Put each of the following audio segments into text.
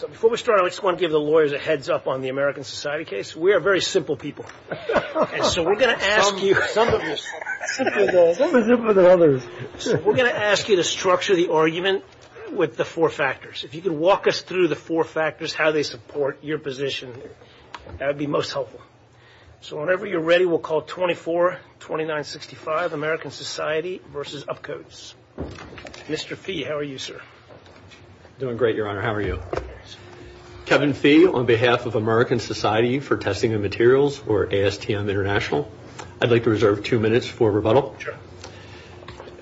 Before we start, I just want to give the lawyers a heads up on the American Society case. We are very simple people. And so we're going to ask you to structure the argument with the four factors. If you could walk us through the four factors, how they support your position, that would be most helpful. So whenever you're ready, we'll call 24-2965, American Society v. UPCODES. Mr. Fee, how are you, sir? Doing great, Your Honor. How are you? Kevin Fee, on behalf of American Society for Testing and Materials, or ASTM International. I'd like to reserve two minutes for rebuttal.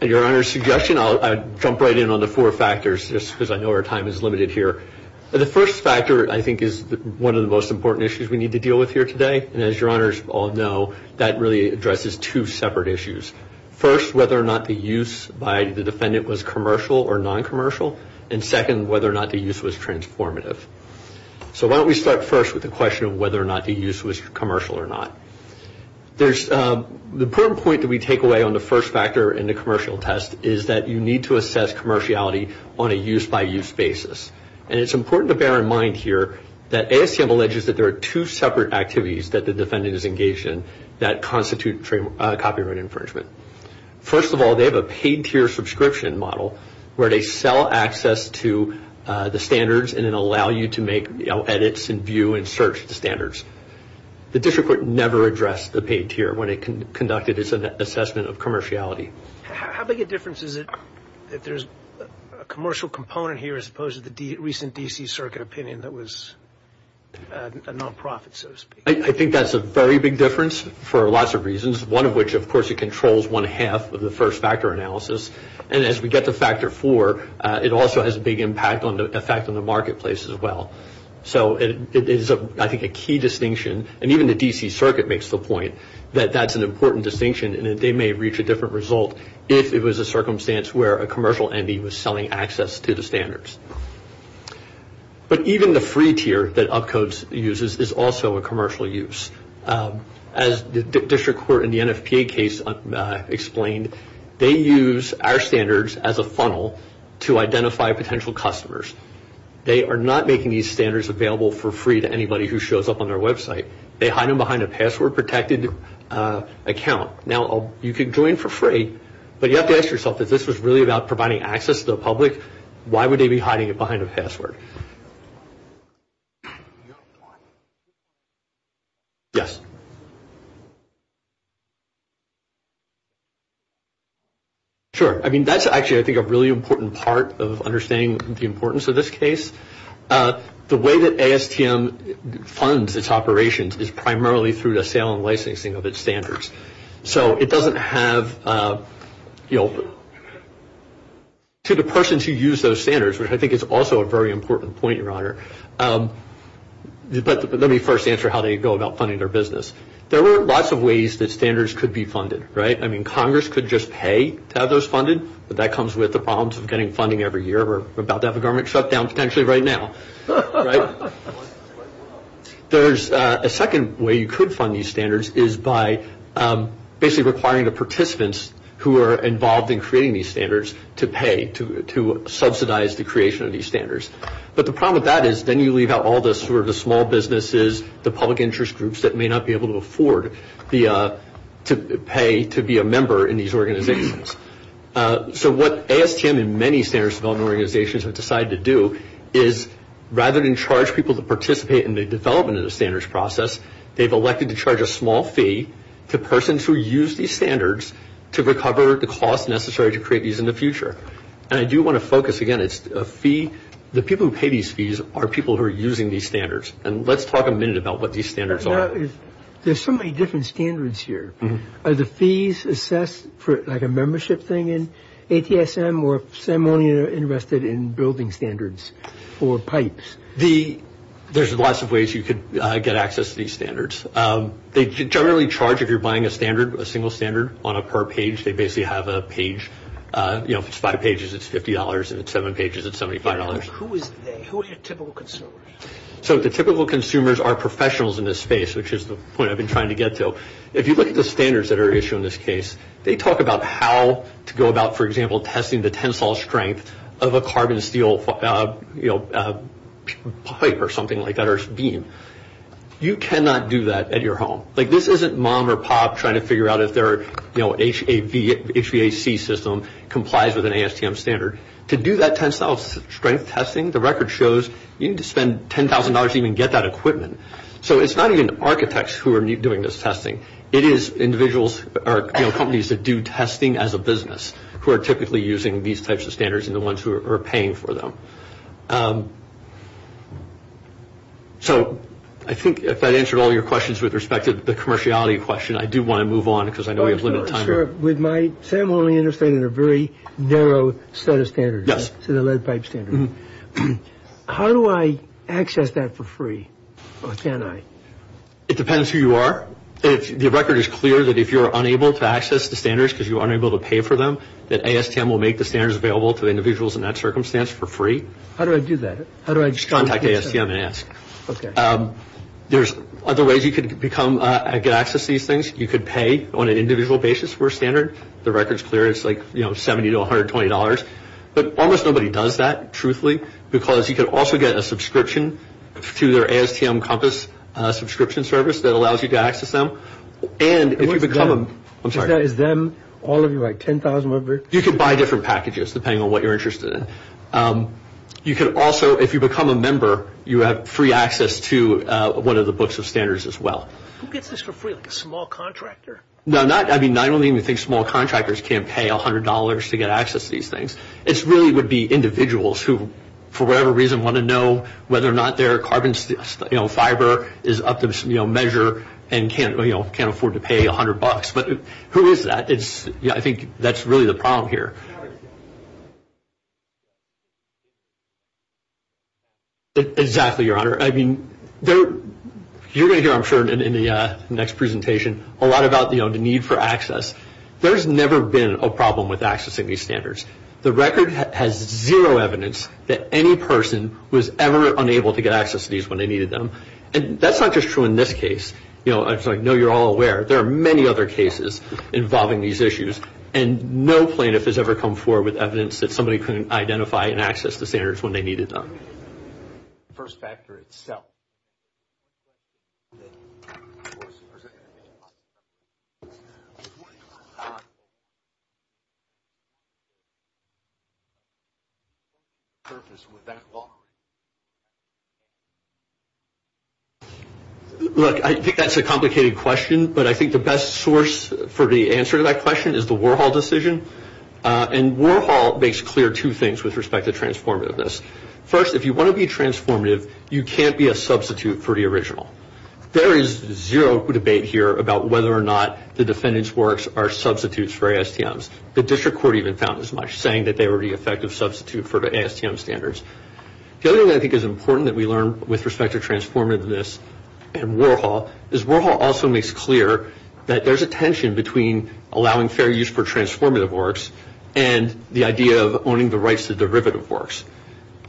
At Your Honor's suggestion, I'll jump right in on the four factors, just because I know our time is limited here. The first factor, I think, is one of the most important issues we need to deal with here today. And as Your Honors all know, that really addresses two separate issues. First, whether or not the use by the defendant was commercial or non-commercial. And second, whether or not the use was transformative. So why don't we start first with the question of whether or not the use was commercial or not. The important point that we take away on the first factor in the commercial test is that you need to assess commerciality on a use-by-use basis. And it's important to bear in mind here that ASTM alleges that there are two separate activities that the defendant is engaged in that constitute copyright infringement. First of all, they have a paid tier subscription model where they sell access to the standards and then allow you to make edits and view and search the standards. The district court never addressed the paid tier when it conducted its assessment of commerciality. How big a difference is it that there's a commercial component here, as opposed to the recent D.C. Circuit opinion that was a non-profit, so to speak? I think that's a very big difference for lots of reasons, one of which, of course, it controls one half of the first factor analysis. And as we get to factor four, it also has a big impact on the effect on the marketplace as well. So it is, I think, a key distinction. And even the D.C. Circuit makes the point that that's an important distinction and that they may reach a different result if it was a circumstance where a commercial entity was selling access to the standards. But even the free tier that UpCodes uses is also a commercial use. As the district court in the NFPA case explained, they use our standards as a funnel to identify potential customers. They are not making these standards available for free to anybody who shows up on their website. They hide them behind a password-protected account. Now, you can join for free, but you have to ask yourself, if this was really about providing access to the public, why would they be hiding it behind a password? Yes. Sure, I mean, that's actually, I think, a really important part of understanding the importance of this case. The way that ASTM funds its operations is primarily through the sale and licensing of its standards. So it doesn't have, you know, to the persons who use those standards, which I think is also a very important point, Your Honor, but let me first answer how they go about funding their business. There were lots of ways that standards could be funded, right? I mean, Congress could just pay to have those funded, but that comes with the problems of getting funding every year. We're about to have a government shutdown potentially right now, right? There's a second way you could fund these standards is by basically requiring the participants who are involved in creating these standards to pay to subsidize the creation of these standards. But the problem with that is then you leave out all the sort of the small businesses, the public interest groups that may not be able to afford to pay to be a member in these organizations. So what ASTM and many standards development organizations have decided to do is, rather than charge people to participate in the development of the standards process, they've elected to charge a small fee to persons who use these standards to recover the cost necessary to create these in the future. And I do want to focus, again, it's a fee. The people who pay these fees are people who are using these standards. And let's talk a minute about what these standards are. There's so many different standards here. Are the fees assessed like a membership thing in ATSM or are some only interested in building standards or pipes? There's lots of ways you could get access to these standards. They generally charge if you're buying a standard, a single standard, on a per page. They basically have a page. You know, if it's five pages, it's $50, and if it's seven pages, it's $75. Who are the typical consumers? So the typical consumers are professionals in this space, which is the point I've been trying to get to. So if you look at the standards that are issued in this case, they talk about how to go about, for example, testing the tensile strength of a carbon steel pipe or something like that or beam. You cannot do that at your home. Like this isn't mom or pop trying to figure out if their HVAC system complies with an ASTM standard. To do that tensile strength testing, the record shows, you need to spend $10,000 to even get that equipment. So it's not even architects who are doing this testing. It is individuals or companies that do testing as a business who are typically using these types of standards and the ones who are paying for them. So I think if that answered all your questions with respect to the commerciality question, I do want to move on because I know we have limited time. Sir, with my – say I'm only interested in a very narrow set of standards. Yes. So the lead pipe standard. How do I access that for free or can I? It depends who you are. The record is clear that if you're unable to access the standards because you're unable to pay for them, that ASTM will make the standards available to individuals in that circumstance for free. How do I do that? Just contact ASTM and ask. Okay. There's other ways you could become – get access to these things. You could pay on an individual basis for a standard. The record's clear. It's like $70 to $120. But almost nobody does that, truthfully, because you could also get a subscription to their ASTM Compass subscription service that allows you to access them. And if you become a – I'm sorry. Is them – all of you, like 10,000 members? You could buy different packages depending on what you're interested in. You could also – if you become a member, you have free access to one of the books of standards as well. Who gets this for free, like a small contractor? No, not – I don't even think small contractors can pay $100 to get access to these things. It really would be individuals who, for whatever reason, want to know whether or not their carbon fiber is up to measure and can't afford to pay $100. But who is that? I think that's really the problem here. Exactly, Your Honor. I mean, you're going to hear, I'm sure, in the next presentation, a lot about the need for access. There's never been a problem with accessing these standards. The record has zero evidence that any person was ever unable to get access to these when they needed them. And that's not just true in this case. I know you're all aware. There are many other cases involving these issues. And no plaintiff has ever come forward with evidence that somebody couldn't identify and access the standards when they needed them. Before you go, Your Honor, what is the purpose with that law? Look, I think that's a complicated question. But I think the best source for the answer to that question is the Warhol decision. And Warhol makes clear two things with respect to transformativeness. First, if you want to be transformative, you can't be a substitute for the original. There is zero debate here about whether or not the defendant's works are substitutes for ASTMs. The district court even found as much, saying that they were the effective substitute for the ASTM standards. The other thing I think is important that we learn with respect to transformativeness and Warhol is Warhol also makes clear that there's a tension between allowing fair use for transformative works and the idea of owning the rights to derivative works.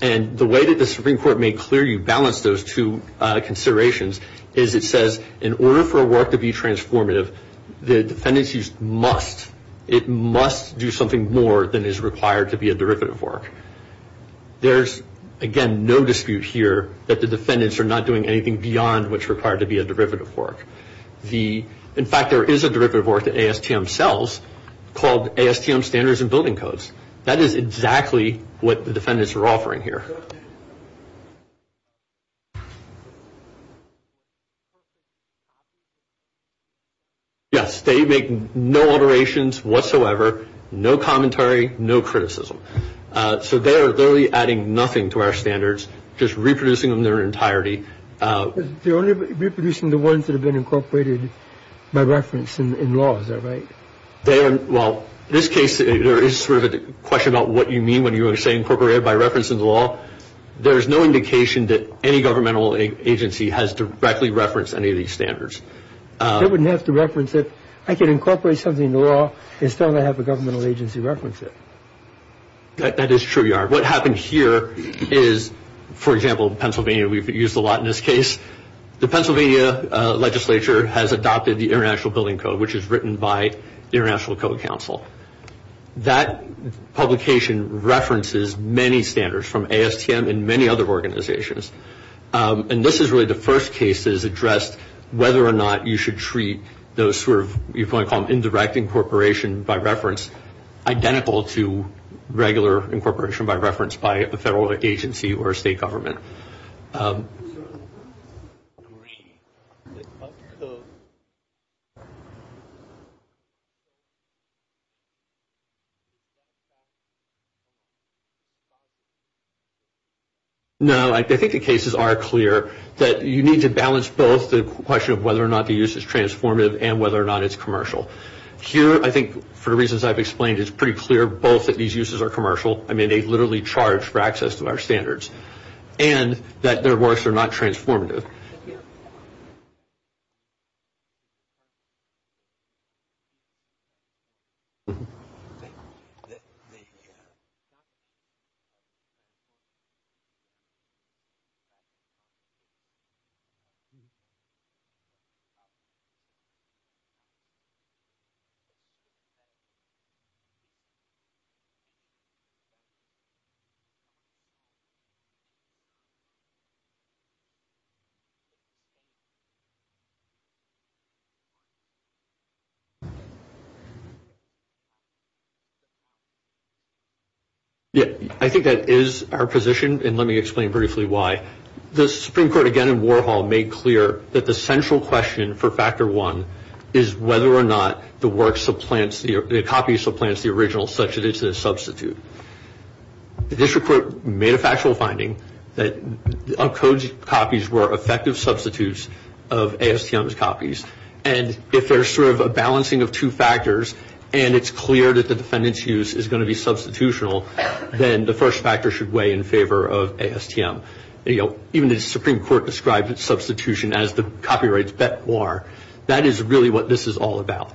And the way that the Supreme Court made clear you balance those two considerations is it says in order for a work to be transformative, the defendants must do something more than is required to be a derivative work. There's, again, no dispute here that the defendants are not doing anything beyond what's required to be a derivative work. In fact, there is a derivative work that ASTM sells called ASTM Standards and Building Codes. That is exactly what the defendants are offering here. Yes, they make no alterations whatsoever, no commentary, no criticism. So they are literally adding nothing to our standards, just reproducing them in their entirety. They're only reproducing the ones that have been incorporated by reference in laws, right? Well, in this case, there is sort of a question about what you mean when you say incorporated by reference in the law. There's no indication that any governmental agency has directly referenced any of these standards. They wouldn't have to reference it. I can incorporate something in the law and still not have a governmental agency reference it. That is true, Yar. What happened here is, for example, Pennsylvania, we've used a lot in this case. The Pennsylvania legislature has adopted the International Building Code, which is written by the International Code Council. That publication references many standards from ASTM and many other organizations. And this is really the first case that has addressed whether or not you should treat those sort of, you might call them indirect incorporation by reference, identical to regular incorporation by reference by a federal agency or state government. Sorry. No, I think the cases are clear that you need to balance both the question of whether or not the use is transformative and whether or not it's commercial. Here, I think, for the reasons I've explained, it's pretty clear both that these uses are commercial. I mean, they literally charge for access to our standards. And that their works are not transformative. Yeah, I think that is our position. And let me explain briefly why. The Supreme Court, again, in Warhol, made clear that the central question for Factor I is whether or not the work supplants, the copy supplants the original such that it's a substitute. The district court made a factual finding. That uncoded copies were effective substitutes of ASTM's copies. And if there's sort of a balancing of two factors, and it's clear that the defendant's use is going to be substitutional, then the first factor should weigh in favor of ASTM. You know, even the Supreme Court described substitution as the copyrights bet war. That is really what this is all about.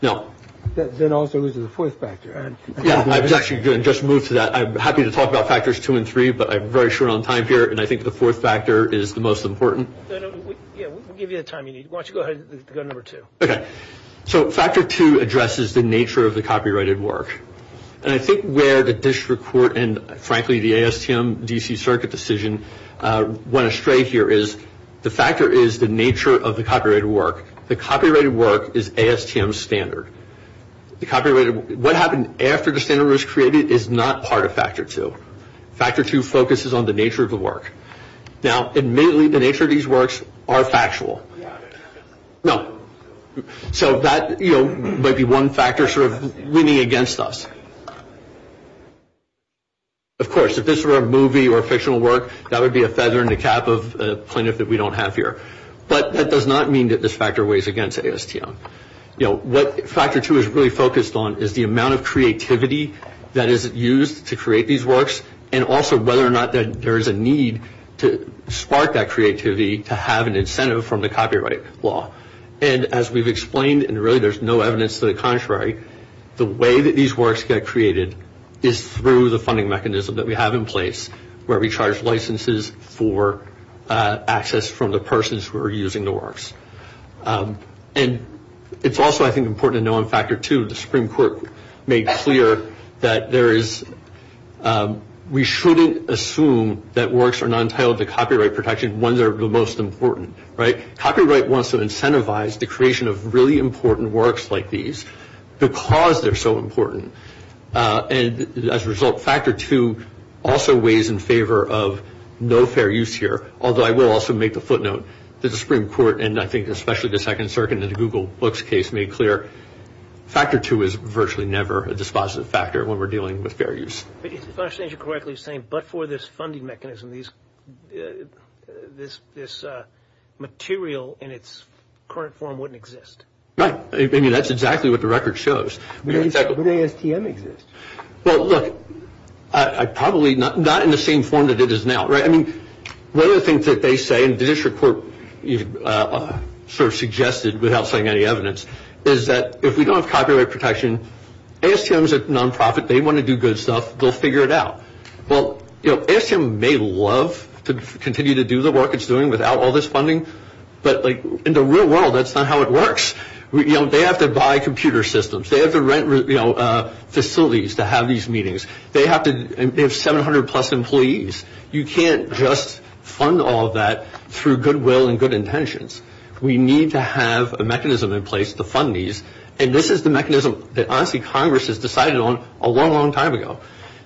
No. Then also, this is the fourth factor. Yeah, I was actually going to just move to that. I'm happy to talk about Factors II and III, but I'm very short on time here. And I think the fourth factor is the most important. Yeah, we'll give you the time you need. Why don't you go ahead and go to Number II. Okay. So, Factor II addresses the nature of the copyrighted work. And I think where the district court and, frankly, the ASTM DC Circuit decision went astray here is, the factor is the nature of the copyrighted work. The copyrighted work is ASTM's standard. What happened after the standard was created is not part of Factor II. Factor II focuses on the nature of the work. Now, admittedly, the nature of these works are factual. No. So that, you know, might be one factor sort of leaning against us. Of course, if this were a movie or a fictional work, that would be a feather in the cap of plaintiff that we don't have here. But that does not mean that this factor weighs against ASTM. You know, what Factor II is really focused on is the amount of creativity that is used to create these works and also whether or not there is a need to spark that creativity to have an incentive from the copyright law. And as we've explained, and really there's no evidence to the contrary, the way that these works get created is through the funding mechanism that we have in place where we charge licenses for access from the persons who are using the works. And it's also, I think, important to know in Factor II, the Supreme Court made clear that we shouldn't assume that works are not entitled to copyright protection when they're the most important, right? Copyright wants to incentivize the creation of really important works like these because they're so important. And as a result, Factor II also weighs in favor of no fair use here, although I will also make the footnote that the Supreme Court, and I think especially the Second Circuit and the Google Books case made clear, Factor II is virtually never a dispositive factor when we're dealing with fair use. If I understand you correctly, you're saying but for this funding mechanism, this material in its current form wouldn't exist. Right. I mean, that's exactly what the record shows. Would ASTM exist? Well, look, probably not in the same form that it is now, right? I mean, one of the things that they say, and the district court sort of suggested without citing any evidence, is that if we don't have copyright protection, ASTM is a nonprofit. They want to do good stuff. They'll figure it out. Well, you know, ASTM may love to continue to do the work it's doing without all this funding, but like in the real world, that's not how it works. You know, they have to buy computer systems. They have to rent, you know, facilities to have these meetings. They have 700-plus employees. You can't just fund all of that through goodwill and good intentions. We need to have a mechanism in place to fund these, and this is the mechanism that honestly Congress has decided on a long, long time ago.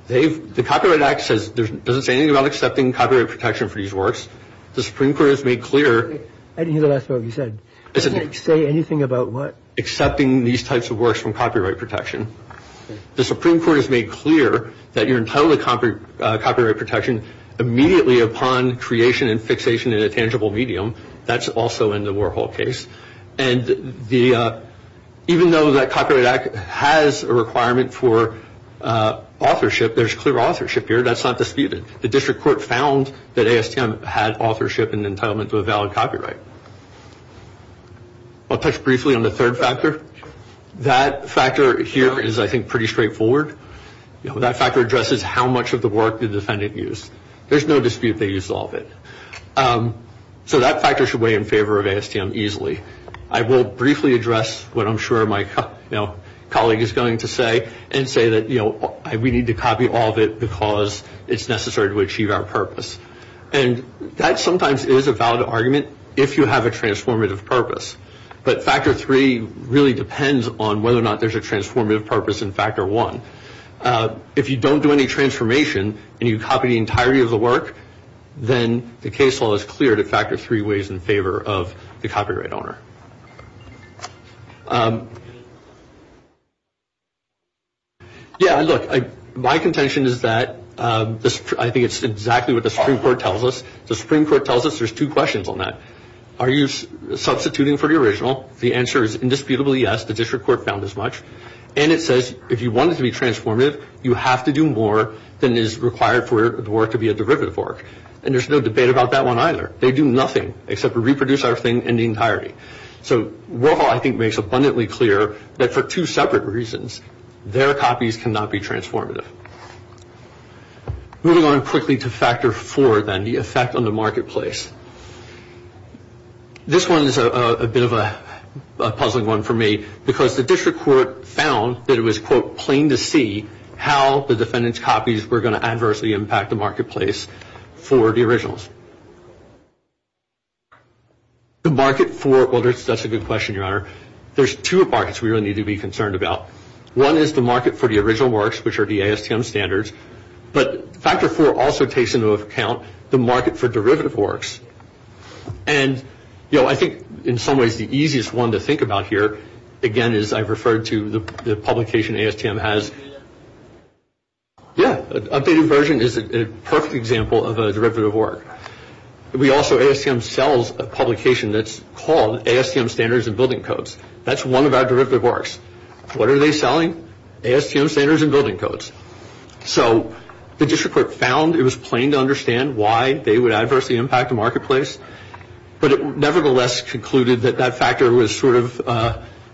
The Copyright Act doesn't say anything about accepting copyright protection for these works. The Supreme Court has made clear. I didn't hear the last part of what you said. It doesn't say anything about what? Accepting these types of works from copyright protection. The Supreme Court has made clear that you're entitled to copyright protection immediately upon creation and fixation in a tangible medium. That's also in the Warhol case. And even though that Copyright Act has a requirement for authorship, there's clear authorship here. That's not disputed. The district court found that ASTM had authorship and entitlement to a valid copyright. I'll touch briefly on the third factor. That factor here is, I think, pretty straightforward. That factor addresses how much of the work the defendant used. There's no dispute they used all of it. So that factor should weigh in favor of ASTM easily. I will briefly address what I'm sure my colleague is going to say and say that we need to copy all of it because it's necessary to achieve our purpose. And that sometimes is a valid argument if you have a transformative purpose. But factor three really depends on whether or not there's a transformative purpose in factor one. If you don't do any transformation and you copy the entirety of the work, then the case law is clear to factor three ways in favor of the copyright owner. Yeah, look, my contention is that I think it's exactly what the Supreme Court tells us. The Supreme Court tells us there's two questions on that. Are you substituting for the original? The answer is indisputably yes. The district court found as much. And it says if you want it to be transformative, you have to do more than is required for the work to be a derivative work. And there's no debate about that one either. They do nothing except reproduce our thing in the entirety. So Roehl, I think, makes abundantly clear that for two separate reasons, their copies cannot be transformative. Moving on quickly to factor four, then, the effect on the marketplace. This one is a bit of a puzzling one for me, because the district court found that it was, quote, plain to see how the defendant's copies were going to adversely impact the marketplace for the originals. The market for, well, that's a good question, Your Honor. There's two markets we really need to be concerned about. One is the market for the original works, which are the ASTM standards. But factor four also takes into account the market for derivative works. And, you know, I think in some ways the easiest one to think about here, again, is I referred to the publication ASTM has. Yeah, updated version is a perfect example of a derivative work. We also, ASTM sells a publication that's called ASTM Standards and Building Codes. That's one of our derivative works. What are they selling? ASTM Standards and Building Codes. So the district court found it was plain to understand why they would adversely impact the marketplace, but it nevertheless concluded that that factor was sort of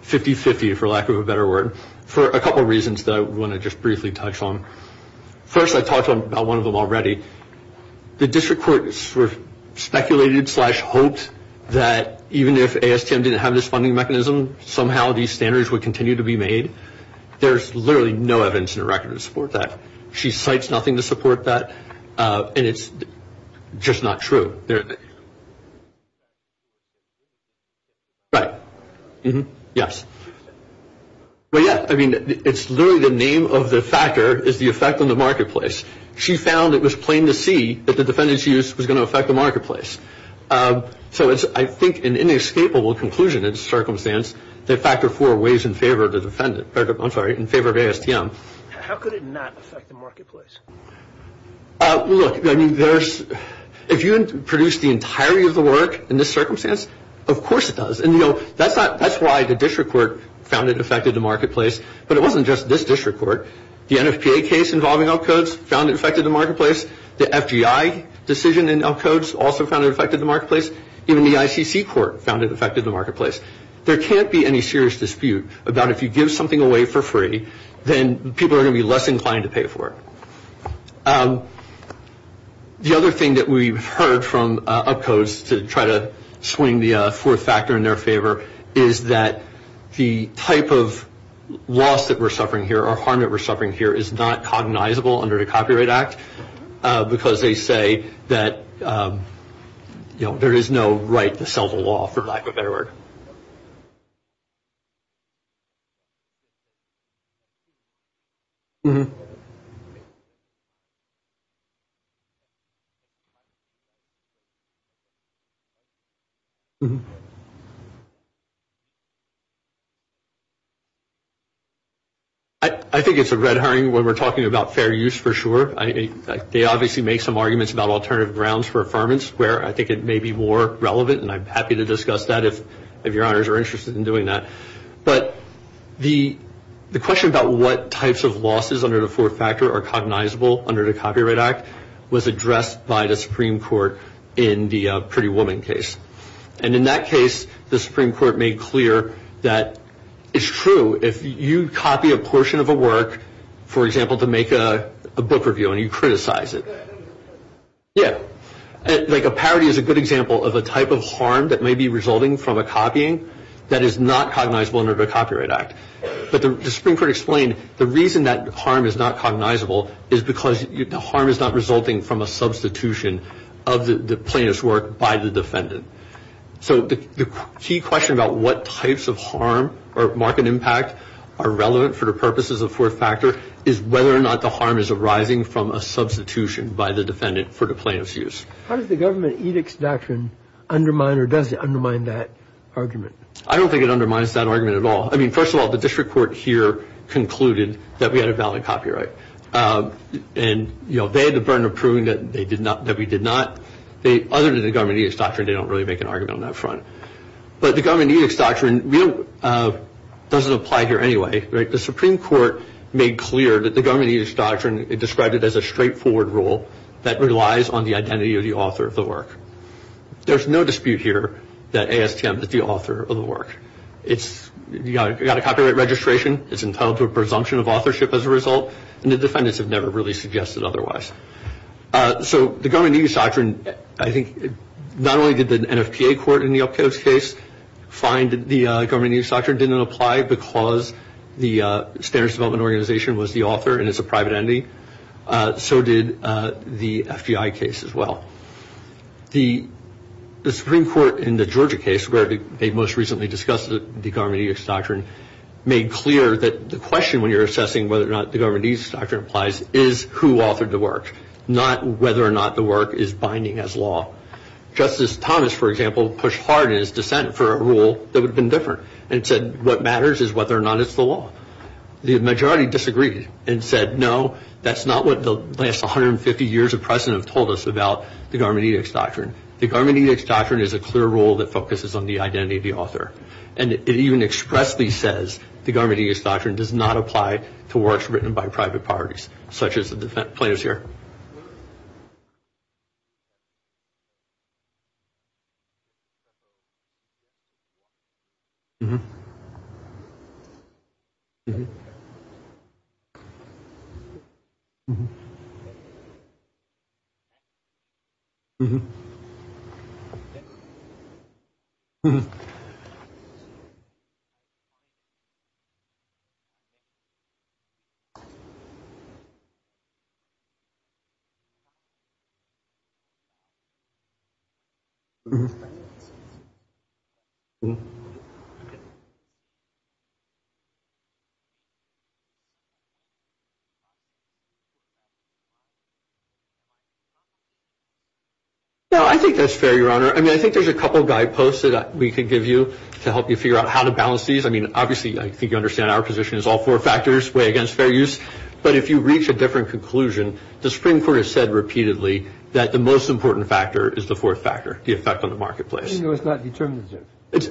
50-50, for lack of a better word, for a couple reasons that I want to just briefly touch on. First, I talked about one of them already. The district court sort of speculated slash hoped that even if ASTM didn't have this funding mechanism, somehow these standards would continue to be made. There's literally no evidence in the record to support that. She cites nothing to support that, and it's just not true. Right. Yes. Well, yeah, I mean, it's literally the name of the factor is the effect on the marketplace. She found it was plain to see that the defendant's use was going to affect the marketplace. So it's, I think, an inescapable conclusion in this circumstance that factor four weighs in favor of the defendant. I'm sorry, in favor of ASTM. How could it not affect the marketplace? Look, I mean, if you produce the entirety of the work in this circumstance, of course it does. And, you know, that's why the district court found it affected the marketplace. But it wasn't just this district court. The NFPA case involving UpCodes found it affected the marketplace. The FGI decision in UpCodes also found it affected the marketplace. Even the ICC court found it affected the marketplace. There can't be any serious dispute about if you give something away for free, then people are going to be less inclined to pay for it. The other thing that we've heard from UpCodes to try to swing the fourth factor in their favor is that the type of loss that we're suffering here or harm that we're suffering here is not cognizable under the Copyright Act because they say that, you know, there is no right to sell the law, for lack of a better word. I think it's a red herring when we're talking about fair use for sure. They obviously make some arguments about alternative grounds for affirmance where I think it may be more relevant, and I'm happy to discuss that if your honors are interested in doing that. But the question about what types of losses under the fourth factor are cognizable under the Copyright Act was addressed by the Supreme Court in the Pretty Woman case. And in that case, the Supreme Court made clear that it's true. If you copy a portion of a work, for example, to make a book review and you criticize it, yeah, like a parody is a good example of a type of harm that may be resulting from a copying that is not cognizable under the Copyright Act. But the Supreme Court explained the reason that harm is not cognizable is because the harm is not resulting from a substitution of the plaintiff's work by the defendant. So the key question about what types of harm or market impact are relevant for the purposes of fourth factor is whether or not the harm is arising from a substitution by the defendant for the plaintiff's use. How does the government edicts doctrine undermine or does it undermine that argument? I don't think it undermines that argument at all. I mean, first of all, the district court here concluded that we had a valid copyright. And, you know, they had the burden of proving that we did not. Other than the government edicts doctrine, they don't really make an argument on that front. But the government edicts doctrine doesn't apply here anyway. The Supreme Court made clear that the government edicts doctrine, it described it as a straightforward rule that relies on the identity of the author of the work. There's no dispute here that ASTM is the author of the work. You've got a copyright registration. It's entitled to a presumption of authorship as a result. And the defendants have never really suggested otherwise. So the government edicts doctrine, I think, not only did the NFPA court in the Upcoats case find the government edicts doctrine didn't apply because the Standards Development Organization was the author and it's a private entity, so did the FBI case as well. The Supreme Court in the Georgia case where they most recently discussed the government edicts doctrine made clear that the question when you're assessing whether or not the government edicts doctrine applies is who authored the work, not whether or not the work is binding as law. Justice Thomas, for example, pushed hard in his dissent for a rule that would have been different and said what matters is whether or not it's the law. The majority disagreed and said no, that's not what the last 150 years of precedent have told us about the government edicts doctrine. The government edicts doctrine is a clear rule that focuses on the identity of the author. And it even expressly says the government edicts doctrine does not apply to works written by private parties such as the players here. No, I think that's fair, Your Honor. I mean, I think there's a couple of guideposts that we can give you to help you figure out how to balance these. I mean, obviously, I think you understand our position is all four factors weigh against fair use. But if you reach a different conclusion, the Supreme Court has said repeatedly that the most important factor is the fourth factor, the effect on the marketplace. Even though it's not determinative.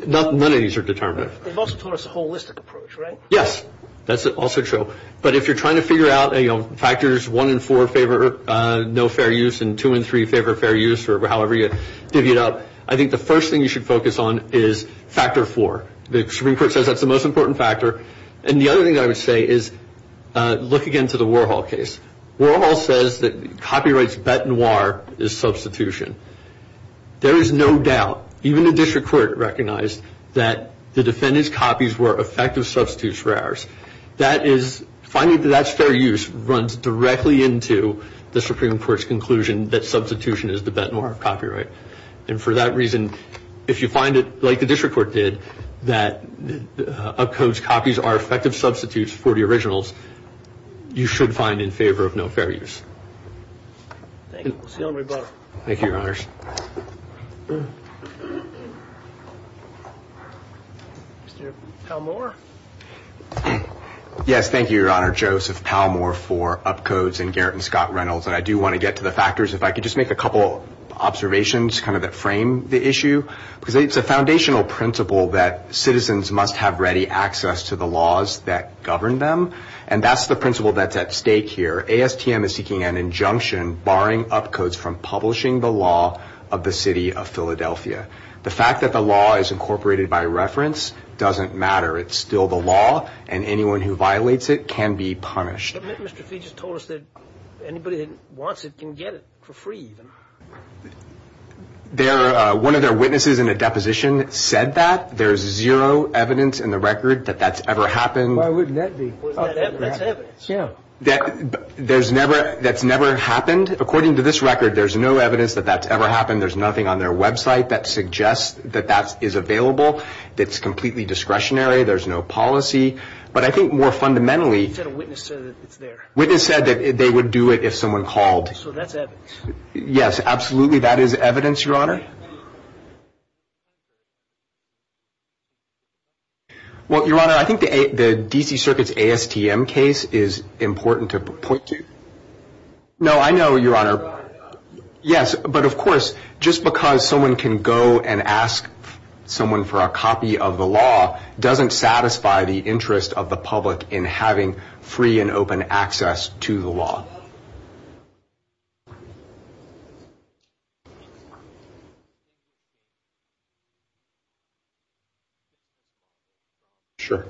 None of these are determinative. They've also taught us a holistic approach, right? Yes, that's also true. But if you're trying to figure out factors one and four favor no fair use and two and three favor fair use or however you divvy it up, I think the first thing you should focus on is factor four. The Supreme Court says that's the most important factor. And the other thing I would say is look again to the Warhol case. Warhol says that copyright's bette noire is substitution. There is no doubt, even the district court recognized, that the defendant's copies were effective substitutes for ours. Finding that that's fair use runs directly into the Supreme Court's conclusion that substitution is the bette noire of copyright. And for that reason, if you find it, like the district court did, that Upcode's copies are effective substitutes for the originals, you should find in favor of no fair use. Thank you. Thank you, Your Honors. Mr. Palmore. Yes, thank you, Your Honor. Joseph Palmore for Upcode's and Garrett and Scott Reynolds. And I do want to get to the factors. If I could just make a couple observations kind of that frame the issue. Because it's a foundational principle that citizens must have ready access to the laws that govern them, and that's the principle that's at stake here. ASTM is seeking an injunction barring Upcode's from publishing the law of the city of Philadelphia. The fact that the law is incorporated by reference doesn't matter. It's still the law, and anyone who violates it can be punished. Mr. Fee just told us that anybody that wants it can get it for free, even. One of their witnesses in a deposition said that. There is zero evidence in the record that that's ever happened. Why wouldn't that be? That's evidence, yeah. That's never happened. According to this record, there's no evidence that that's ever happened. There's nothing on their website that suggests that that is available. It's completely discretionary. There's no policy. But I think more fundamentally. A witness said that it's there. A witness said that they would do it if someone called. So that's evidence. Yes, absolutely, that is evidence, Your Honor. Well, Your Honor, I think the D.C. Circuit's ASTM case is important to point to. No, I know, Your Honor. Yes, but, of course, just because someone can go and ask someone for a copy of the law doesn't satisfy the interest of the public in having free and open access to the law. Sure.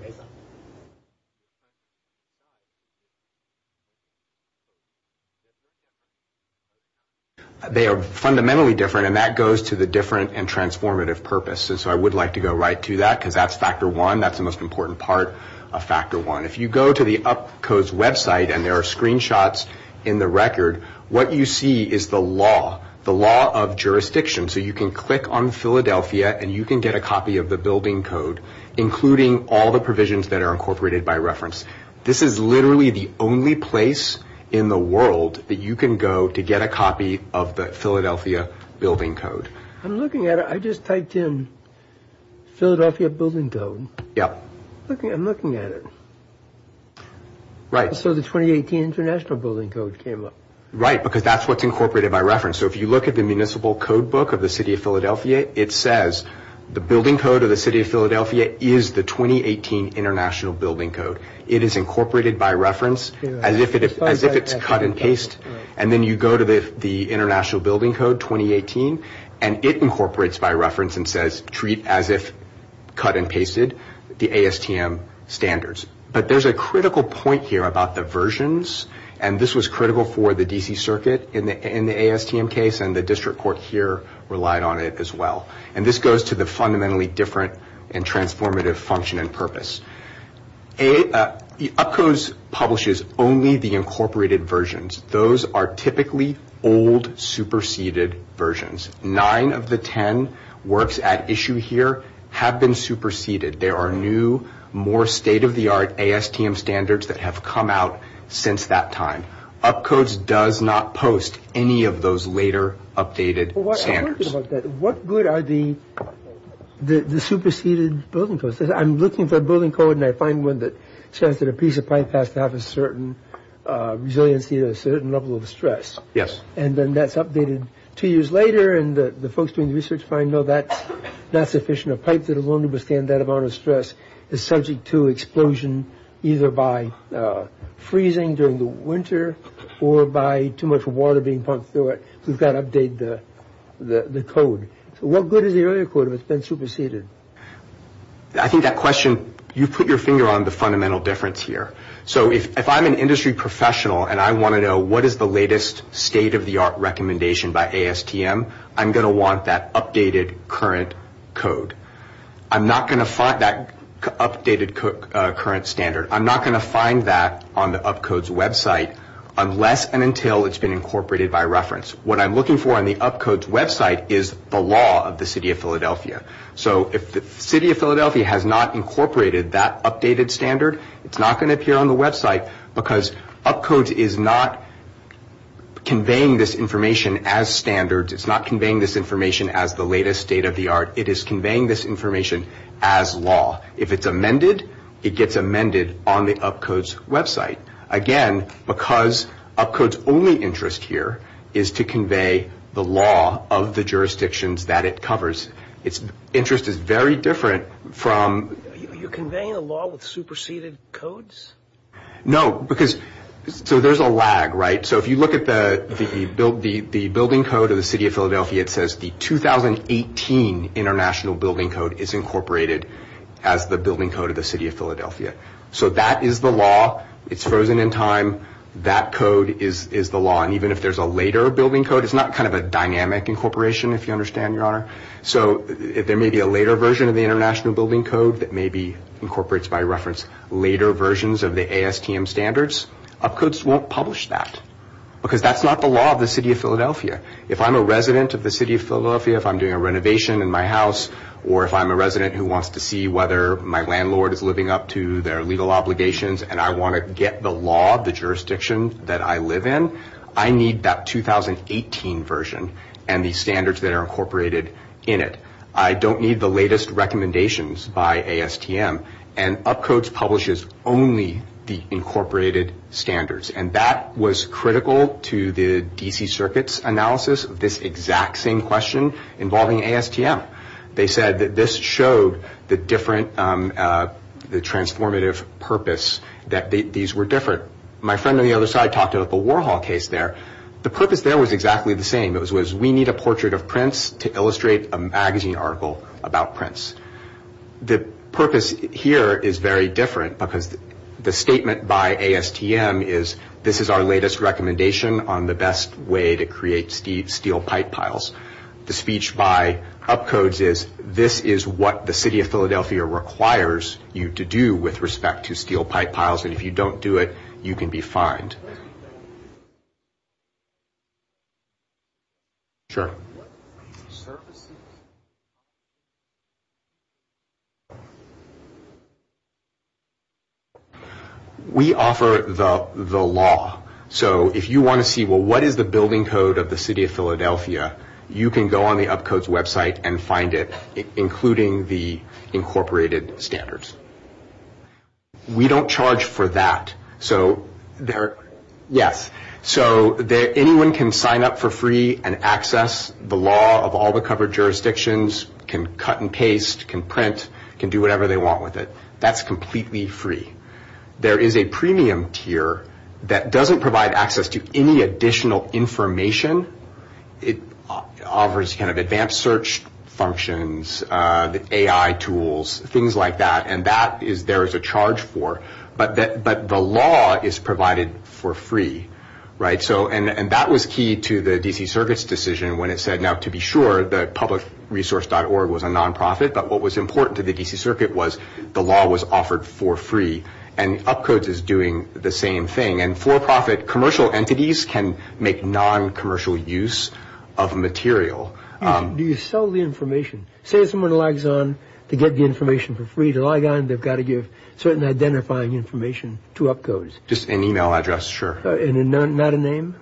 They are fundamentally different, and that goes to the different and transformative purpose. And so I would like to go right to that because that's factor one. That's the most important part of factor one. If you go to the UP Code's website, and there are screenshots in the record, what you see is the law, the law of jurisdiction. So you can click on Philadelphia, and you can get a copy of the building code, including all the provisions that are incorporated by reference. This is literally the only place in the world that you can go to get a copy of the Philadelphia building code. I'm looking at it. I just typed in Philadelphia building code. Yeah. I'm looking at it. Right. So the 2018 International Building Code came up. Right, because that's what's incorporated by reference. So if you look at the municipal code book of the City of Philadelphia, it says the building code of the City of Philadelphia is the 2018 International Building Code. It is incorporated by reference as if it's cut and paste. Right. And then you go to the International Building Code 2018, and it incorporates by reference and says treat as if cut and pasted the ASTM standards. But there's a critical point here about the versions, and this was critical for the D.C. Circuit in the ASTM case, and the district court here relied on it as well. And this goes to the fundamentally different and transformative function and purpose. UpCodes publishes only the incorporated versions. Those are typically old, superseded versions. Nine of the ten works at issue here have been superseded. There are new, more state-of-the-art ASTM standards that have come out since that time. UpCodes does not post any of those later updated standards. What good are the superseded building codes? I'm looking for a building code, and I find one that says that a piece of pipe has to have a certain resiliency and a certain level of stress. Yes. And then that's updated two years later, and the folks doing the research find, no, that's not sufficient. A pipe that will only withstand that amount of stress is subject to explosion, either by freezing during the winter or by too much water being pumped through it. We've got to update the code. So what good is the earlier code if it's been superseded? I think that question, you've put your finger on the fundamental difference here. So if I'm an industry professional and I want to know what is the latest state-of-the-art recommendation by ASTM, I'm going to want that updated current code. I'm not going to find that updated current standard. I'm not going to find that on the UpCodes website unless and until it's been incorporated by reference. What I'm looking for on the UpCodes website is the law of the city of Philadelphia. So if the city of Philadelphia has not incorporated that updated standard, it's not going to appear on the website because UpCodes is not conveying this information as standards. It's not conveying this information as the latest state-of-the-art. It is conveying this information as law. If it's amended, it gets amended on the UpCodes website. Again, because UpCodes' only interest here is to convey the law of the jurisdictions that it covers. Its interest is very different from— You're conveying the law with superseded codes? No, because—so there's a lag, right? So if you look at the building code of the city of Philadelphia, it says the 2018 international building code is incorporated as the building code of the city of Philadelphia. So that is the law. It's frozen in time. That code is the law. And even if there's a later building code, it's not kind of a dynamic incorporation, if you understand, Your Honor. So there may be a later version of the international building code that maybe incorporates by reference later versions of the ASTM standards. UpCodes won't publish that because that's not the law of the city of Philadelphia. If I'm a resident of the city of Philadelphia, if I'm doing a renovation in my house, or if I'm a resident who wants to see whether my landlord is living up to their legal obligations and I want to get the law of the jurisdiction that I live in, I need that 2018 version and the standards that are incorporated in it. I don't need the latest recommendations by ASTM. And UpCodes publishes only the incorporated standards. And that was critical to the D.C. Circuit's analysis of this exact same question involving ASTM. They said that this showed the transformative purpose, that these were different. My friend on the other side talked about the Warhol case there. The purpose there was exactly the same. It was, we need a portrait of Prince to illustrate a magazine article about Prince. The purpose here is very different because the statement by ASTM is, this is our latest recommendation on the best way to create steel pipe piles. The speech by UpCodes is, this is what the city of Philadelphia requires you to do with respect to steel pipe piles. And if you don't do it, you can be fined. Sure. We offer the law. So if you want to see, well, what is the building code of the city of Philadelphia, you can go on the UpCodes website and find it, including the incorporated standards. We don't charge for that. So there, yes. So anyone can sign up for free and access the law of all the covered jurisdictions, can cut and paste, can print, can do whatever they want with it. That's completely free. There is a premium tier that doesn't provide access to any additional information. It offers kind of advanced search functions, AI tools, things like that, and that there is a charge for. But the law is provided for free. And that was key to the D.C. Circuit's decision when it said, now to be sure, the publicresource.org was a nonprofit, but what was important to the D.C. Circuit was the law was offered for free. And UpCodes is doing the same thing. And for-profit commercial entities can make noncommercial use of material. Do you sell the information? Say someone logs on to get the information for free. To log on, they've got to give certain identifying information to UpCodes. Just an e-mail address, sure. And not a name?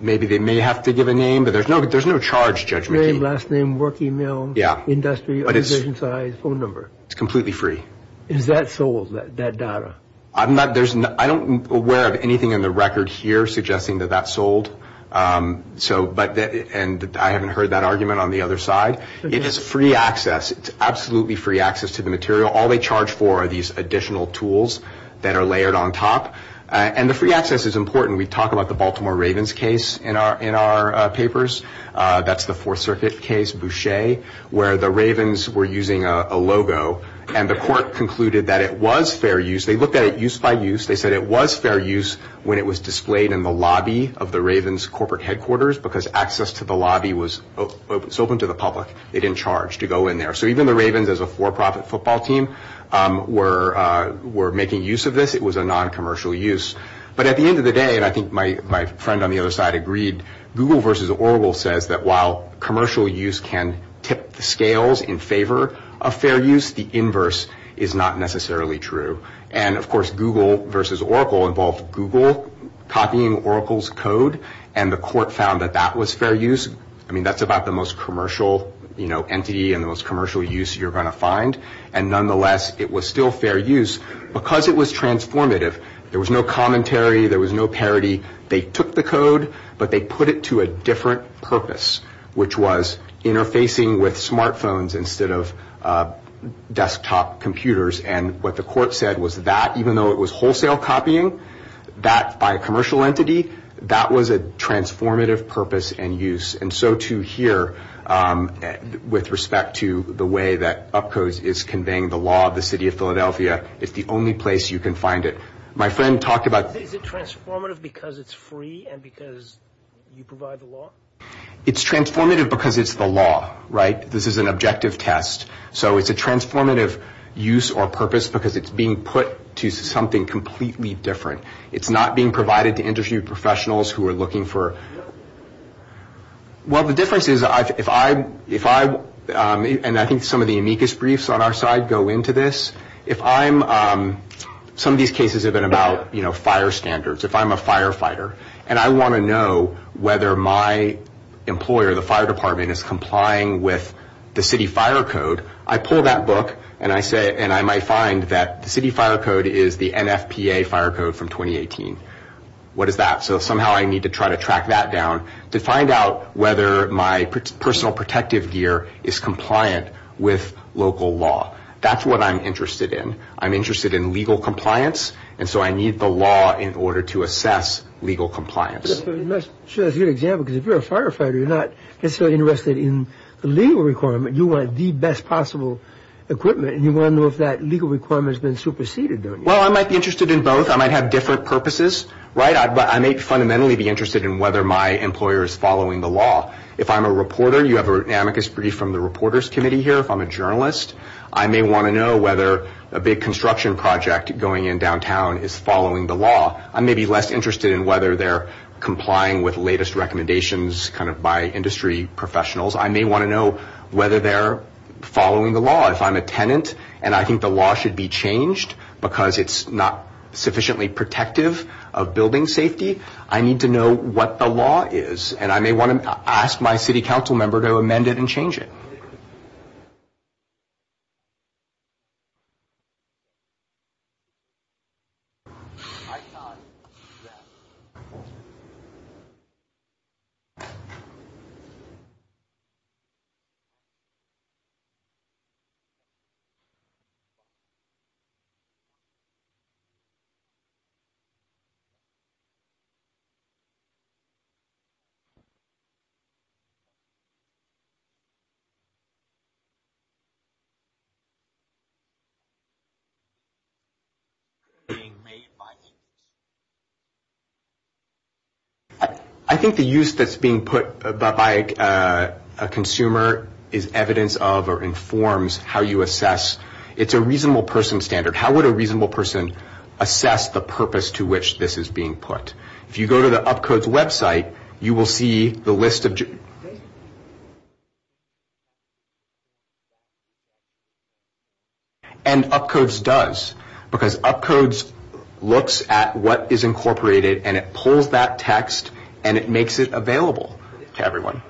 Maybe they may have to give a name, but there's no charge, Judge McKee. Name, last name, work e-mail, industry, organization size, phone number. It's completely free. Is that sold, that data? I'm not aware of anything in the record here suggesting that that's sold. And I haven't heard that argument on the other side. It is free access. It's absolutely free access to the material. All they charge for are these additional tools that are layered on top. And the free access is important. We talk about the Baltimore Ravens case in our papers. That's the Fourth Circuit case, Boucher, where the Ravens were using a logo. And the court concluded that it was fair use. They looked at it use by use. They said it was fair use when it was displayed in the lobby of the Ravens corporate headquarters because access to the lobby was open to the public. They didn't charge to go in there. So even the Ravens as a for-profit football team were making use of this. It was a noncommercial use. But at the end of the day, and I think my friend on the other side agreed, Google versus Oracle says that while commercial use can tip the scales in favor of fair use, the inverse is not necessarily true. And, of course, Google versus Oracle involved Google copying Oracle's code, and the court found that that was fair use. I mean, that's about the most commercial entity and the most commercial use you're going to find. And nonetheless, it was still fair use because it was transformative. There was no commentary. There was no parody. They took the code, but they put it to a different purpose, which was interfacing with smartphones instead of desktop computers. And what the court said was that even though it was wholesale copying, that by a commercial entity, that was a transformative purpose and use. And so, too, here with respect to the way that UpCodes is conveying the law of the city of Philadelphia, it's the only place you can find it. Is it transformative because it's free and because you provide the law? It's transformative because it's the law, right? This is an objective test. So it's a transformative use or purpose because it's being put to something completely different. It's not being provided to industry professionals who are looking for... Well, the difference is if I, and I think some of the amicus briefs on our side go into this, if I'm... Some of these cases have been about fire standards. If I'm a firefighter and I want to know whether my employer, the fire department, is complying with the city fire code, I pull that book and I might find that the city fire code is the NFPA fire code from 2018. What is that? So somehow I need to try to track that down to find out whether my personal protective gear is compliant with local law. That's what I'm interested in. I'm interested in legal compliance, and so I need the law in order to assess legal compliance. You must show a good example because if you're a firefighter, you're not necessarily interested in the legal requirement. You want the best possible equipment, and you want to know if that legal requirement has been superseded, don't you? Well, I might be interested in both. I might have different purposes, right? I may fundamentally be interested in whether my employer is following the law. If I'm a reporter, you have an amicus brief from the reporters committee here. If I'm a journalist, I may want to know whether a big construction project going in downtown is following the law. I may be less interested in whether they're complying with latest recommendations kind of by industry professionals. I may want to know whether they're following the law. If I'm a tenant and I think the law should be changed because it's not sufficiently protective of building safety, I need to know what the law is, and I may want to ask my city council member to amend it and change it. I think the use that's being put by a consumer is evidence of or informs how you assess. It's a reasonable person standard. How would a reasonable person assess the purpose to which this is being put? If you go to the UpCode's website, you will see the list of... And UpCode's does, because UpCode's looks at what is incorporated, and it pulls that text, and it makes it available to everyone.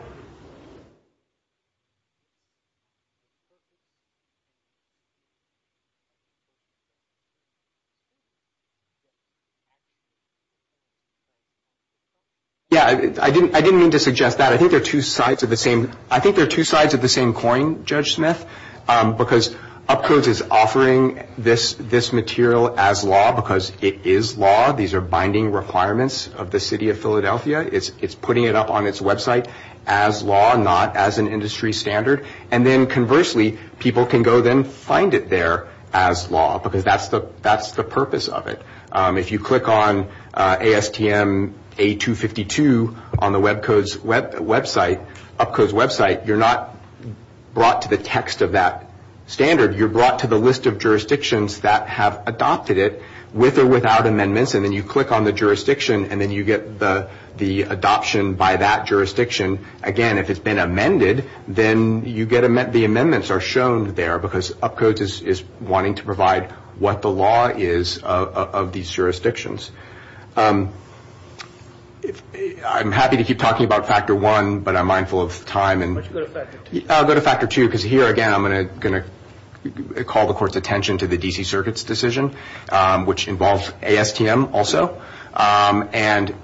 Yeah, I didn't mean to suggest that. I think they're two sides of the same coin, Judge Smith, because UpCode's is offering this material as law because it is law. These are binding requirements of the city of Philadelphia. It's putting it up on its website as law, not as an industry standard. And then conversely, people can go then find it there as law, because that's the purpose of it. If you click on ASTM A252 on the UpCode's website, you're not brought to the text of that standard. You're brought to the list of jurisdictions that have adopted it with or without amendments, and then you click on the jurisdiction, and then you get the adoption by that jurisdiction. Again, if it's been amended, then the amendments are shown there, because UpCode's is wanting to provide what the law is of these jurisdictions. I'm happy to keep talking about Factor 1, but I'm mindful of time. Why don't you go to Factor 2? I'll go to Factor 2, because here, again, I'm going to call the court's attention to the D.C. Circuit's decision, which involves ASTM also. And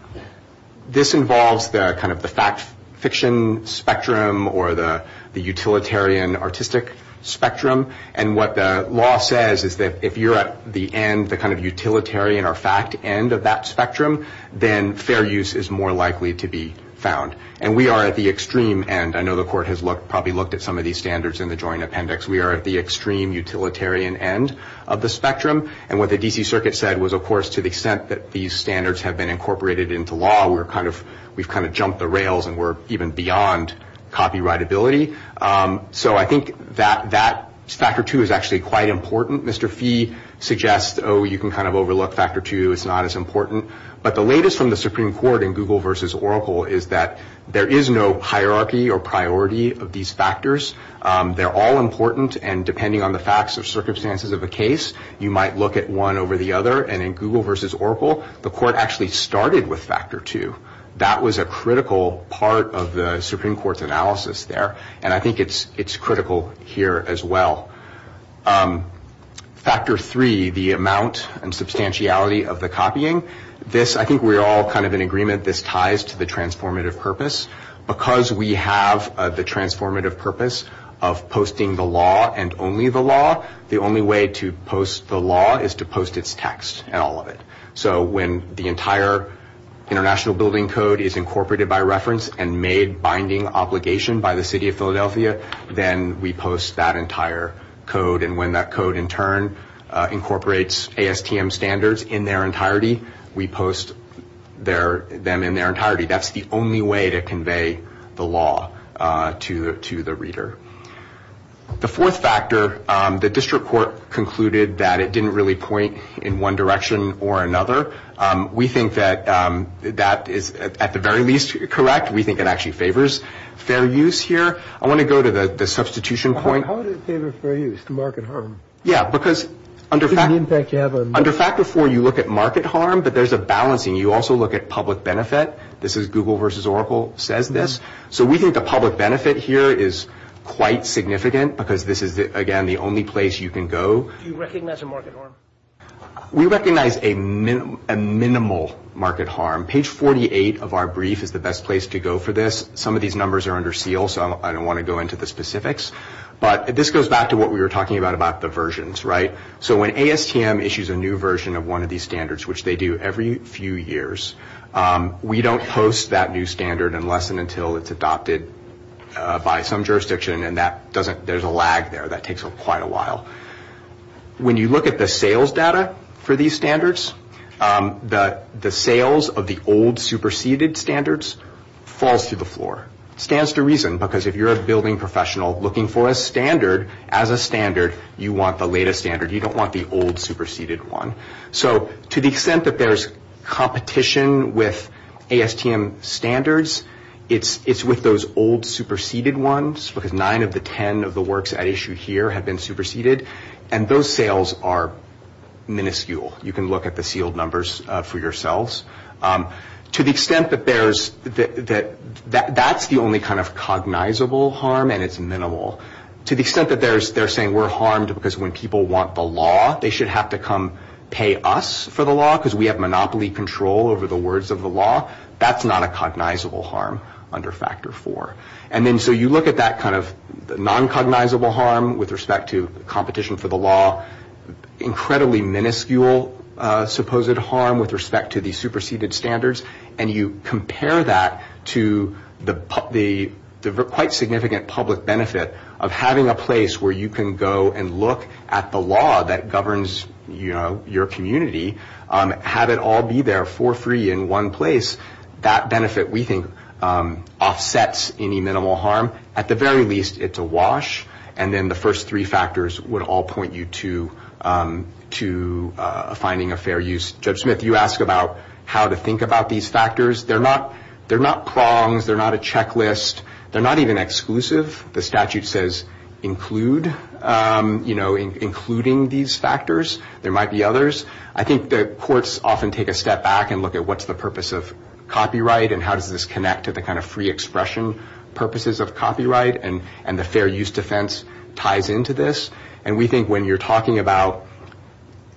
this involves the kind of the fact fiction spectrum or the utilitarian artistic spectrum. And what the law says is that if you're at the end, the kind of utilitarian or fact end of that spectrum, then fair use is more likely to be found. And we are at the extreme end. I know the court has probably looked at some of these standards in the joint appendix. We are at the extreme utilitarian end of the spectrum. And what the D.C. Circuit said was, of course, to the extent that these standards have been incorporated into law, we've kind of jumped the rails and we're even beyond copyrightability. So I think that Factor 2 is actually quite important. Mr. Fee suggests, oh, you can kind of overlook Factor 2. It's not as important. But the latest from the Supreme Court in Google versus Oracle is that there is no hierarchy or priority of these factors. They're all important. And depending on the facts or circumstances of a case, you might look at one over the other. And in Google versus Oracle, the court actually started with Factor 2. That was a critical part of the Supreme Court's analysis there. And I think it's critical here as well. Factor 3, the amount and substantiality of the copying. This, I think we're all kind of in agreement, this ties to the transformative purpose. Because we have the transformative purpose of posting the law and only the law, the only way to post the law is to post its text and all of it. So when the entire International Building Code is incorporated by reference and made binding obligation by the city of Philadelphia, then we post that entire code. And when that code in turn incorporates ASTM standards in their entirety, we post them in their entirety. That's the only way to convey the law to the reader. The fourth factor, the district court concluded that it didn't really point in one direction or another. We think that that is at the very least correct. We think it actually favors fair use here. I want to go to the substitution point. How does it favor fair use to market harm? Yeah, because under Factor 4 you look at market harm, but there's a balancing. You also look at public benefit. This is Google versus Oracle says this. So we think the public benefit here is quite significant because this is, again, the only place you can go. Do you recognize a market harm? We recognize a minimal market harm. Page 48 of our brief is the best place to go for this. Some of these numbers are under seal, so I don't want to go into the specifics. But this goes back to what we were talking about, about the versions, right? So when ASTM issues a new version of one of these standards, which they do every few years, we don't post that new standard unless and until it's adopted by some jurisdiction, and there's a lag there. That takes quite a while. When you look at the sales data for these standards, the sales of the old superseded standards falls to the floor. It stands to reason, because if you're a building professional looking for a standard, as a standard you want the latest standard. You don't want the old superseded one. So to the extent that there's competition with ASTM standards, it's with those old superseded ones, because nine of the ten of the works at issue here have been superseded, and those sales are minuscule. You can look at the sealed numbers for yourselves. To the extent that that's the only kind of cognizable harm, and it's minimal, to the extent that they're saying we're harmed because when people want the law, they should have to come pay us for the law because we have monopoly control over the words of the law, that's not a cognizable harm under Factor 4. So you look at that kind of non-cognizable harm with respect to competition for the law, incredibly minuscule supposed harm with respect to the superseded standards, and you compare that to the quite significant public benefit of having a place where you can go and look at the law that governs your community, have it all be there for free in one place, that benefit, we think, offsets any minimal harm. At the very least, it's a wash, and then the first three factors would all point you to finding a fair use. Judge Smith, you asked about how to think about these factors. They're not prongs. They're not a checklist. They're not even exclusive. The statute says include, you know, including these factors. There might be others. I think the courts often take a step back and look at what's the purpose of copyright and how does this connect to the kind of free expression purposes of copyright, and the fair use defense ties into this. And we think when you're talking about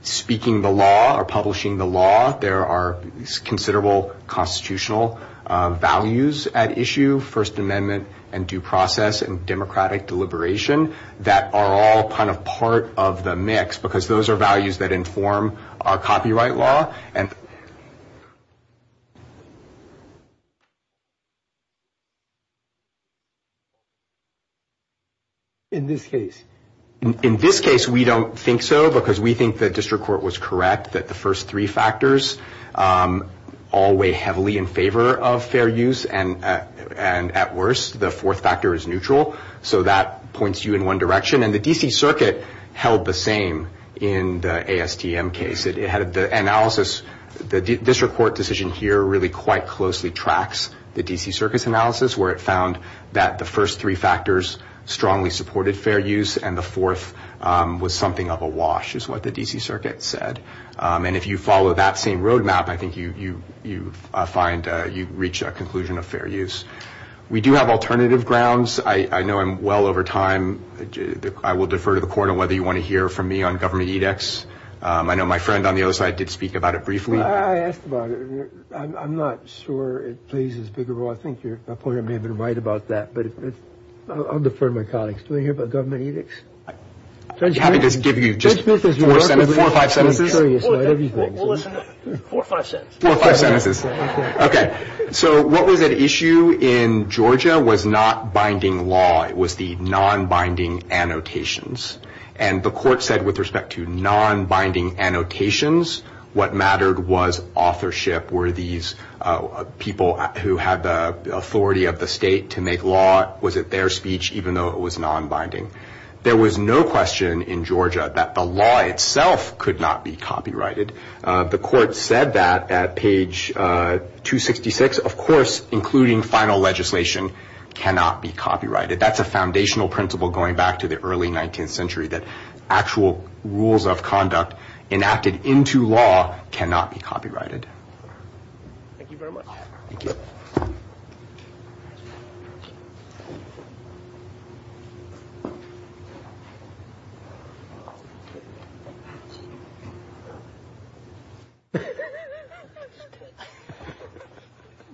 speaking the law or publishing the law, there are considerable constitutional values at issue, First Amendment and due process and democratic deliberation that are all kind of part of the mix because those are values that inform our copyright law. In this case? In this case, we don't think so because we think the district court was correct, that the first three factors all weigh heavily in favor of fair use, and at worst, the fourth factor is neutral, so that points you in one direction. And the D.C. Circuit held the same in the ASTM case. It had the analysis. The district court decision here really quite closely tracks the D.C. Circuit's analysis where it found that the first three factors strongly supported fair use and the fourth was something of a wash is what the D.C. Circuit said. And if you follow that same roadmap, I think you find you reach a conclusion of fair use. We do have alternative grounds. I know I'm well over time. I will defer to the court on whether you want to hear from me on government edicts. I know my friend on the other side did speak about it briefly. I asked about it. I'm not sure it plays as big a role. I think your opponent may have been right about that, but I'll defer to my colleagues. Do you want to hear about government edicts? I'm happy to give you just four or five sentences. We'll listen to four or five sentences. Four or five sentences. Okay. So what was at issue in Georgia was not binding law. It was the non-binding annotations. And the court said with respect to non-binding annotations, what mattered was authorship. Were these people who had the authority of the state to make law, was it their speech even though it was non-binding? There was no question in Georgia that the law itself could not be copyrighted. The court said that at page 266. Of course, including final legislation cannot be copyrighted. That's a foundational principle going back to the early 19th century, that actual rules of conduct enacted into law cannot be copyrighted. Thank you very much. Thank you.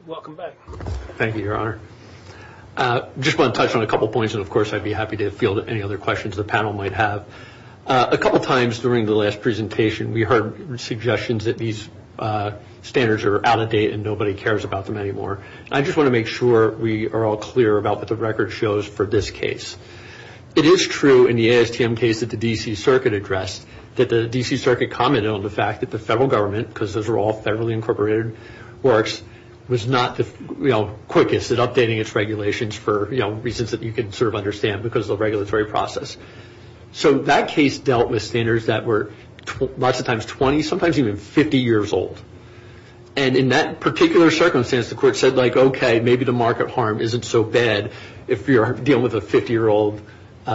Welcome back. Thank you, Your Honor. I just want to touch on a couple of points, and of course I'd be happy to field any other questions the panel might have. A couple of times during the last presentation, we heard suggestions that these standards are out of date and nobody cares about them anymore. I just want to make sure we are all clear about what the record shows for this case. It is true in the ASTM case that the D.C. Circuit addressed that the D.C. Circuit commented on the fact that the federal government, because those are all federally incorporated works, was not the quickest at updating its regulations for reasons that you can sort of understand because of the regulatory process. So that case dealt with standards that were lots of times 20, sometimes even 50 years old. And in that particular circumstance, the court said like, okay, maybe the market harm isn't so bad if you're dealing with a 50-year-old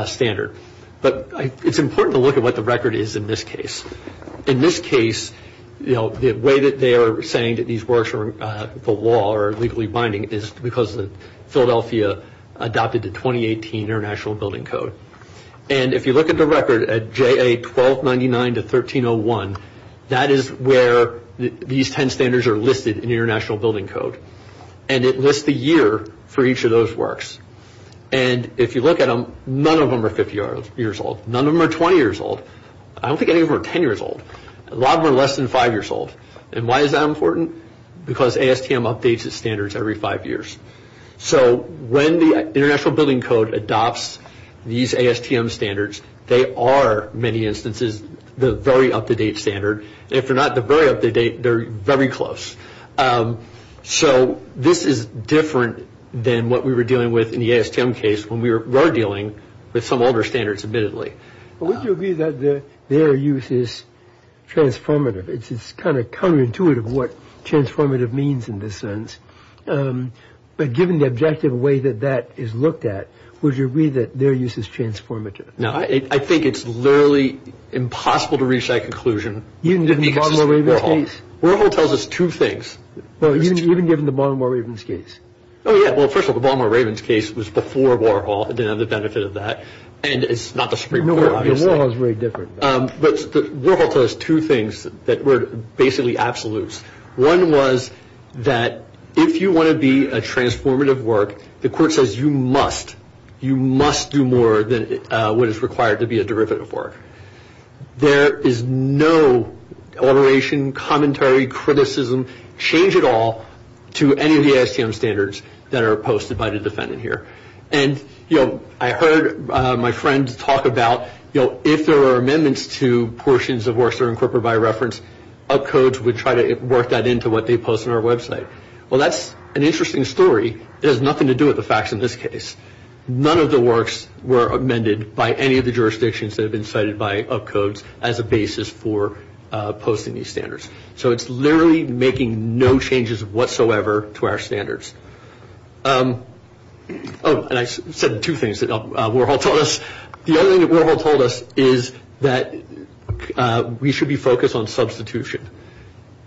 standard. But it's important to look at what the record is in this case. In this case, the way that they are saying that these works are the law or are legally binding is because Philadelphia adopted the 2018 International Building Code. And if you look at the record at JA 1299 to 1301, that is where these 10 standards are listed in the International Building Code. And it lists the year for each of those works. And if you look at them, none of them are 50 years old. None of them are 20 years old. I don't think any of them are 10 years old. A lot of them are less than five years old. And why is that important? Because ASTM updates its standards every five years. So when the International Building Code adopts these ASTM standards, they are, in many instances, the very up-to-date standard. And if they're not the very up-to-date, they're very close. So this is different than what we were dealing with in the ASTM case when we were dealing with some older standards, admittedly. But would you agree that their use is transformative? It's kind of counterintuitive what transformative means in this sense. But given the objective way that that is looked at, would you agree that their use is transformative? No, I think it's literally impossible to reach that conclusion. Even given the bottom-of-the-wave case? Warhol tells us two things. Well, even given the Baltimore Ravens case? Oh, yeah. Well, first of all, the Baltimore Ravens case was before Warhol. It didn't have the benefit of that. And it's not the Supreme Court, obviously. The Warhol is very different. But Warhol tells us two things that were basically absolutes. One was that if you want to be a transformative work, the court says you must. You must do more than what is required to be a derivative work. There is no alteration, commentary, criticism, change at all to any of the ASTM standards that are posted by the defendant here. And, you know, I heard my friend talk about, you know, if there were amendments to portions of works that are incorporated by reference, Upcodes would try to work that into what they post on our website. Well, that's an interesting story. It has nothing to do with the facts in this case. None of the works were amended by any of the jurisdictions that have been cited by Upcodes as a basis for posting these standards. So it's literally making no changes whatsoever to our standards. Oh, and I said two things that Warhol told us. The other thing that Warhol told us is that we should be focused on substitution.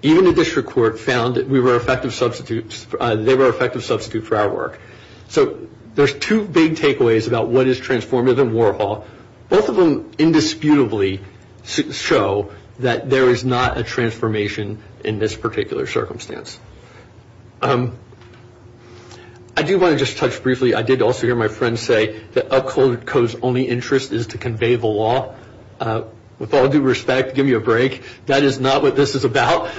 Even the district court found that we were effective substitutes. They were effective substitutes for our work. So there's two big takeaways about what is transformative in Warhol. Both of them indisputably show that there is not a transformation in this particular circumstance. I do want to just touch briefly. I did also hear my friend say that Upcodes' only interest is to convey the law. With all due respect, give me a break. That is not what this is about.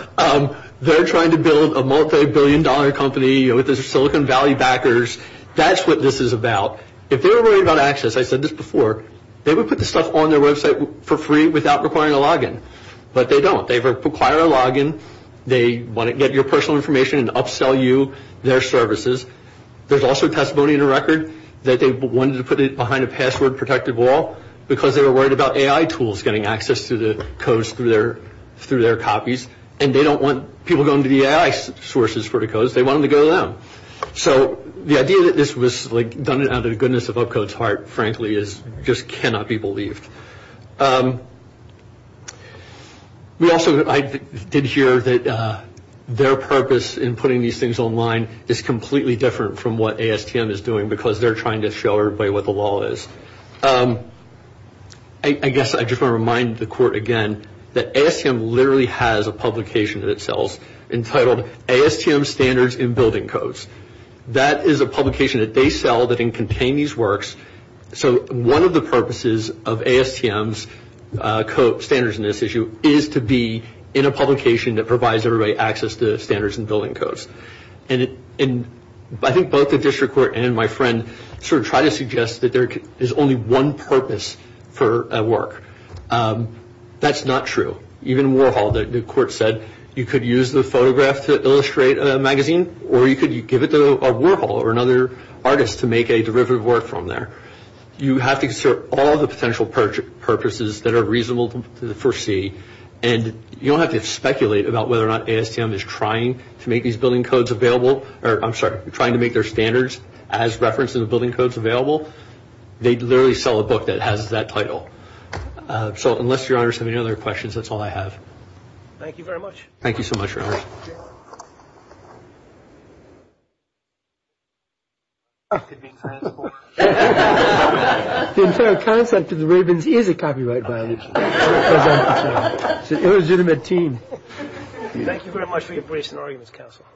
They're trying to build a multibillion-dollar company with the Silicon Valley backers. That's what this is about. If they were worried about access, I said this before, they would put the stuff on their website for free without requiring a login. But they don't. They require a login. They want to get your personal information and upsell you their services. There's also testimony in the record that they wanted to put it behind a password-protected wall because they were worried about AI tools getting access to the codes through their copies, and they don't want people going to the AI sources for the codes. They want them to go to them. So the idea that this was done out of the goodness of Upcodes' heart, frankly, just cannot be believed. I did hear that their purpose in putting these things online is completely different from what ASTM is doing because they're trying to show everybody what the law is. I guess I just want to remind the Court again that ASTM literally has a publication that it sells entitled ASTM Standards in Building Codes. That is a publication that they sell that can contain these works. So one of the purposes of ASTM's standards in this issue is to be in a publication that provides everybody access to standards in building codes. I think both the District Court and my friend sort of try to suggest that there is only one purpose for a work. That's not true. Even in Warhol, the Court said you could use the photograph to illustrate a magazine, or you could give it to Warhol or another artist to make a derivative work from there. You have to consider all the potential purposes that are reasonable to foresee, and you don't have to speculate about whether or not ASTM is trying to make these building codes available, or I'm sorry, trying to make their standards as referenced in the building codes available. They literally sell a book that has that title. So unless Your Honors have any other questions, that's all I have. Thank you very much. Thank you so much, Your Honors. The entire concept of the Ravens is a copyright violation. Thank you very much for your brief scenario, Mr. Counselor.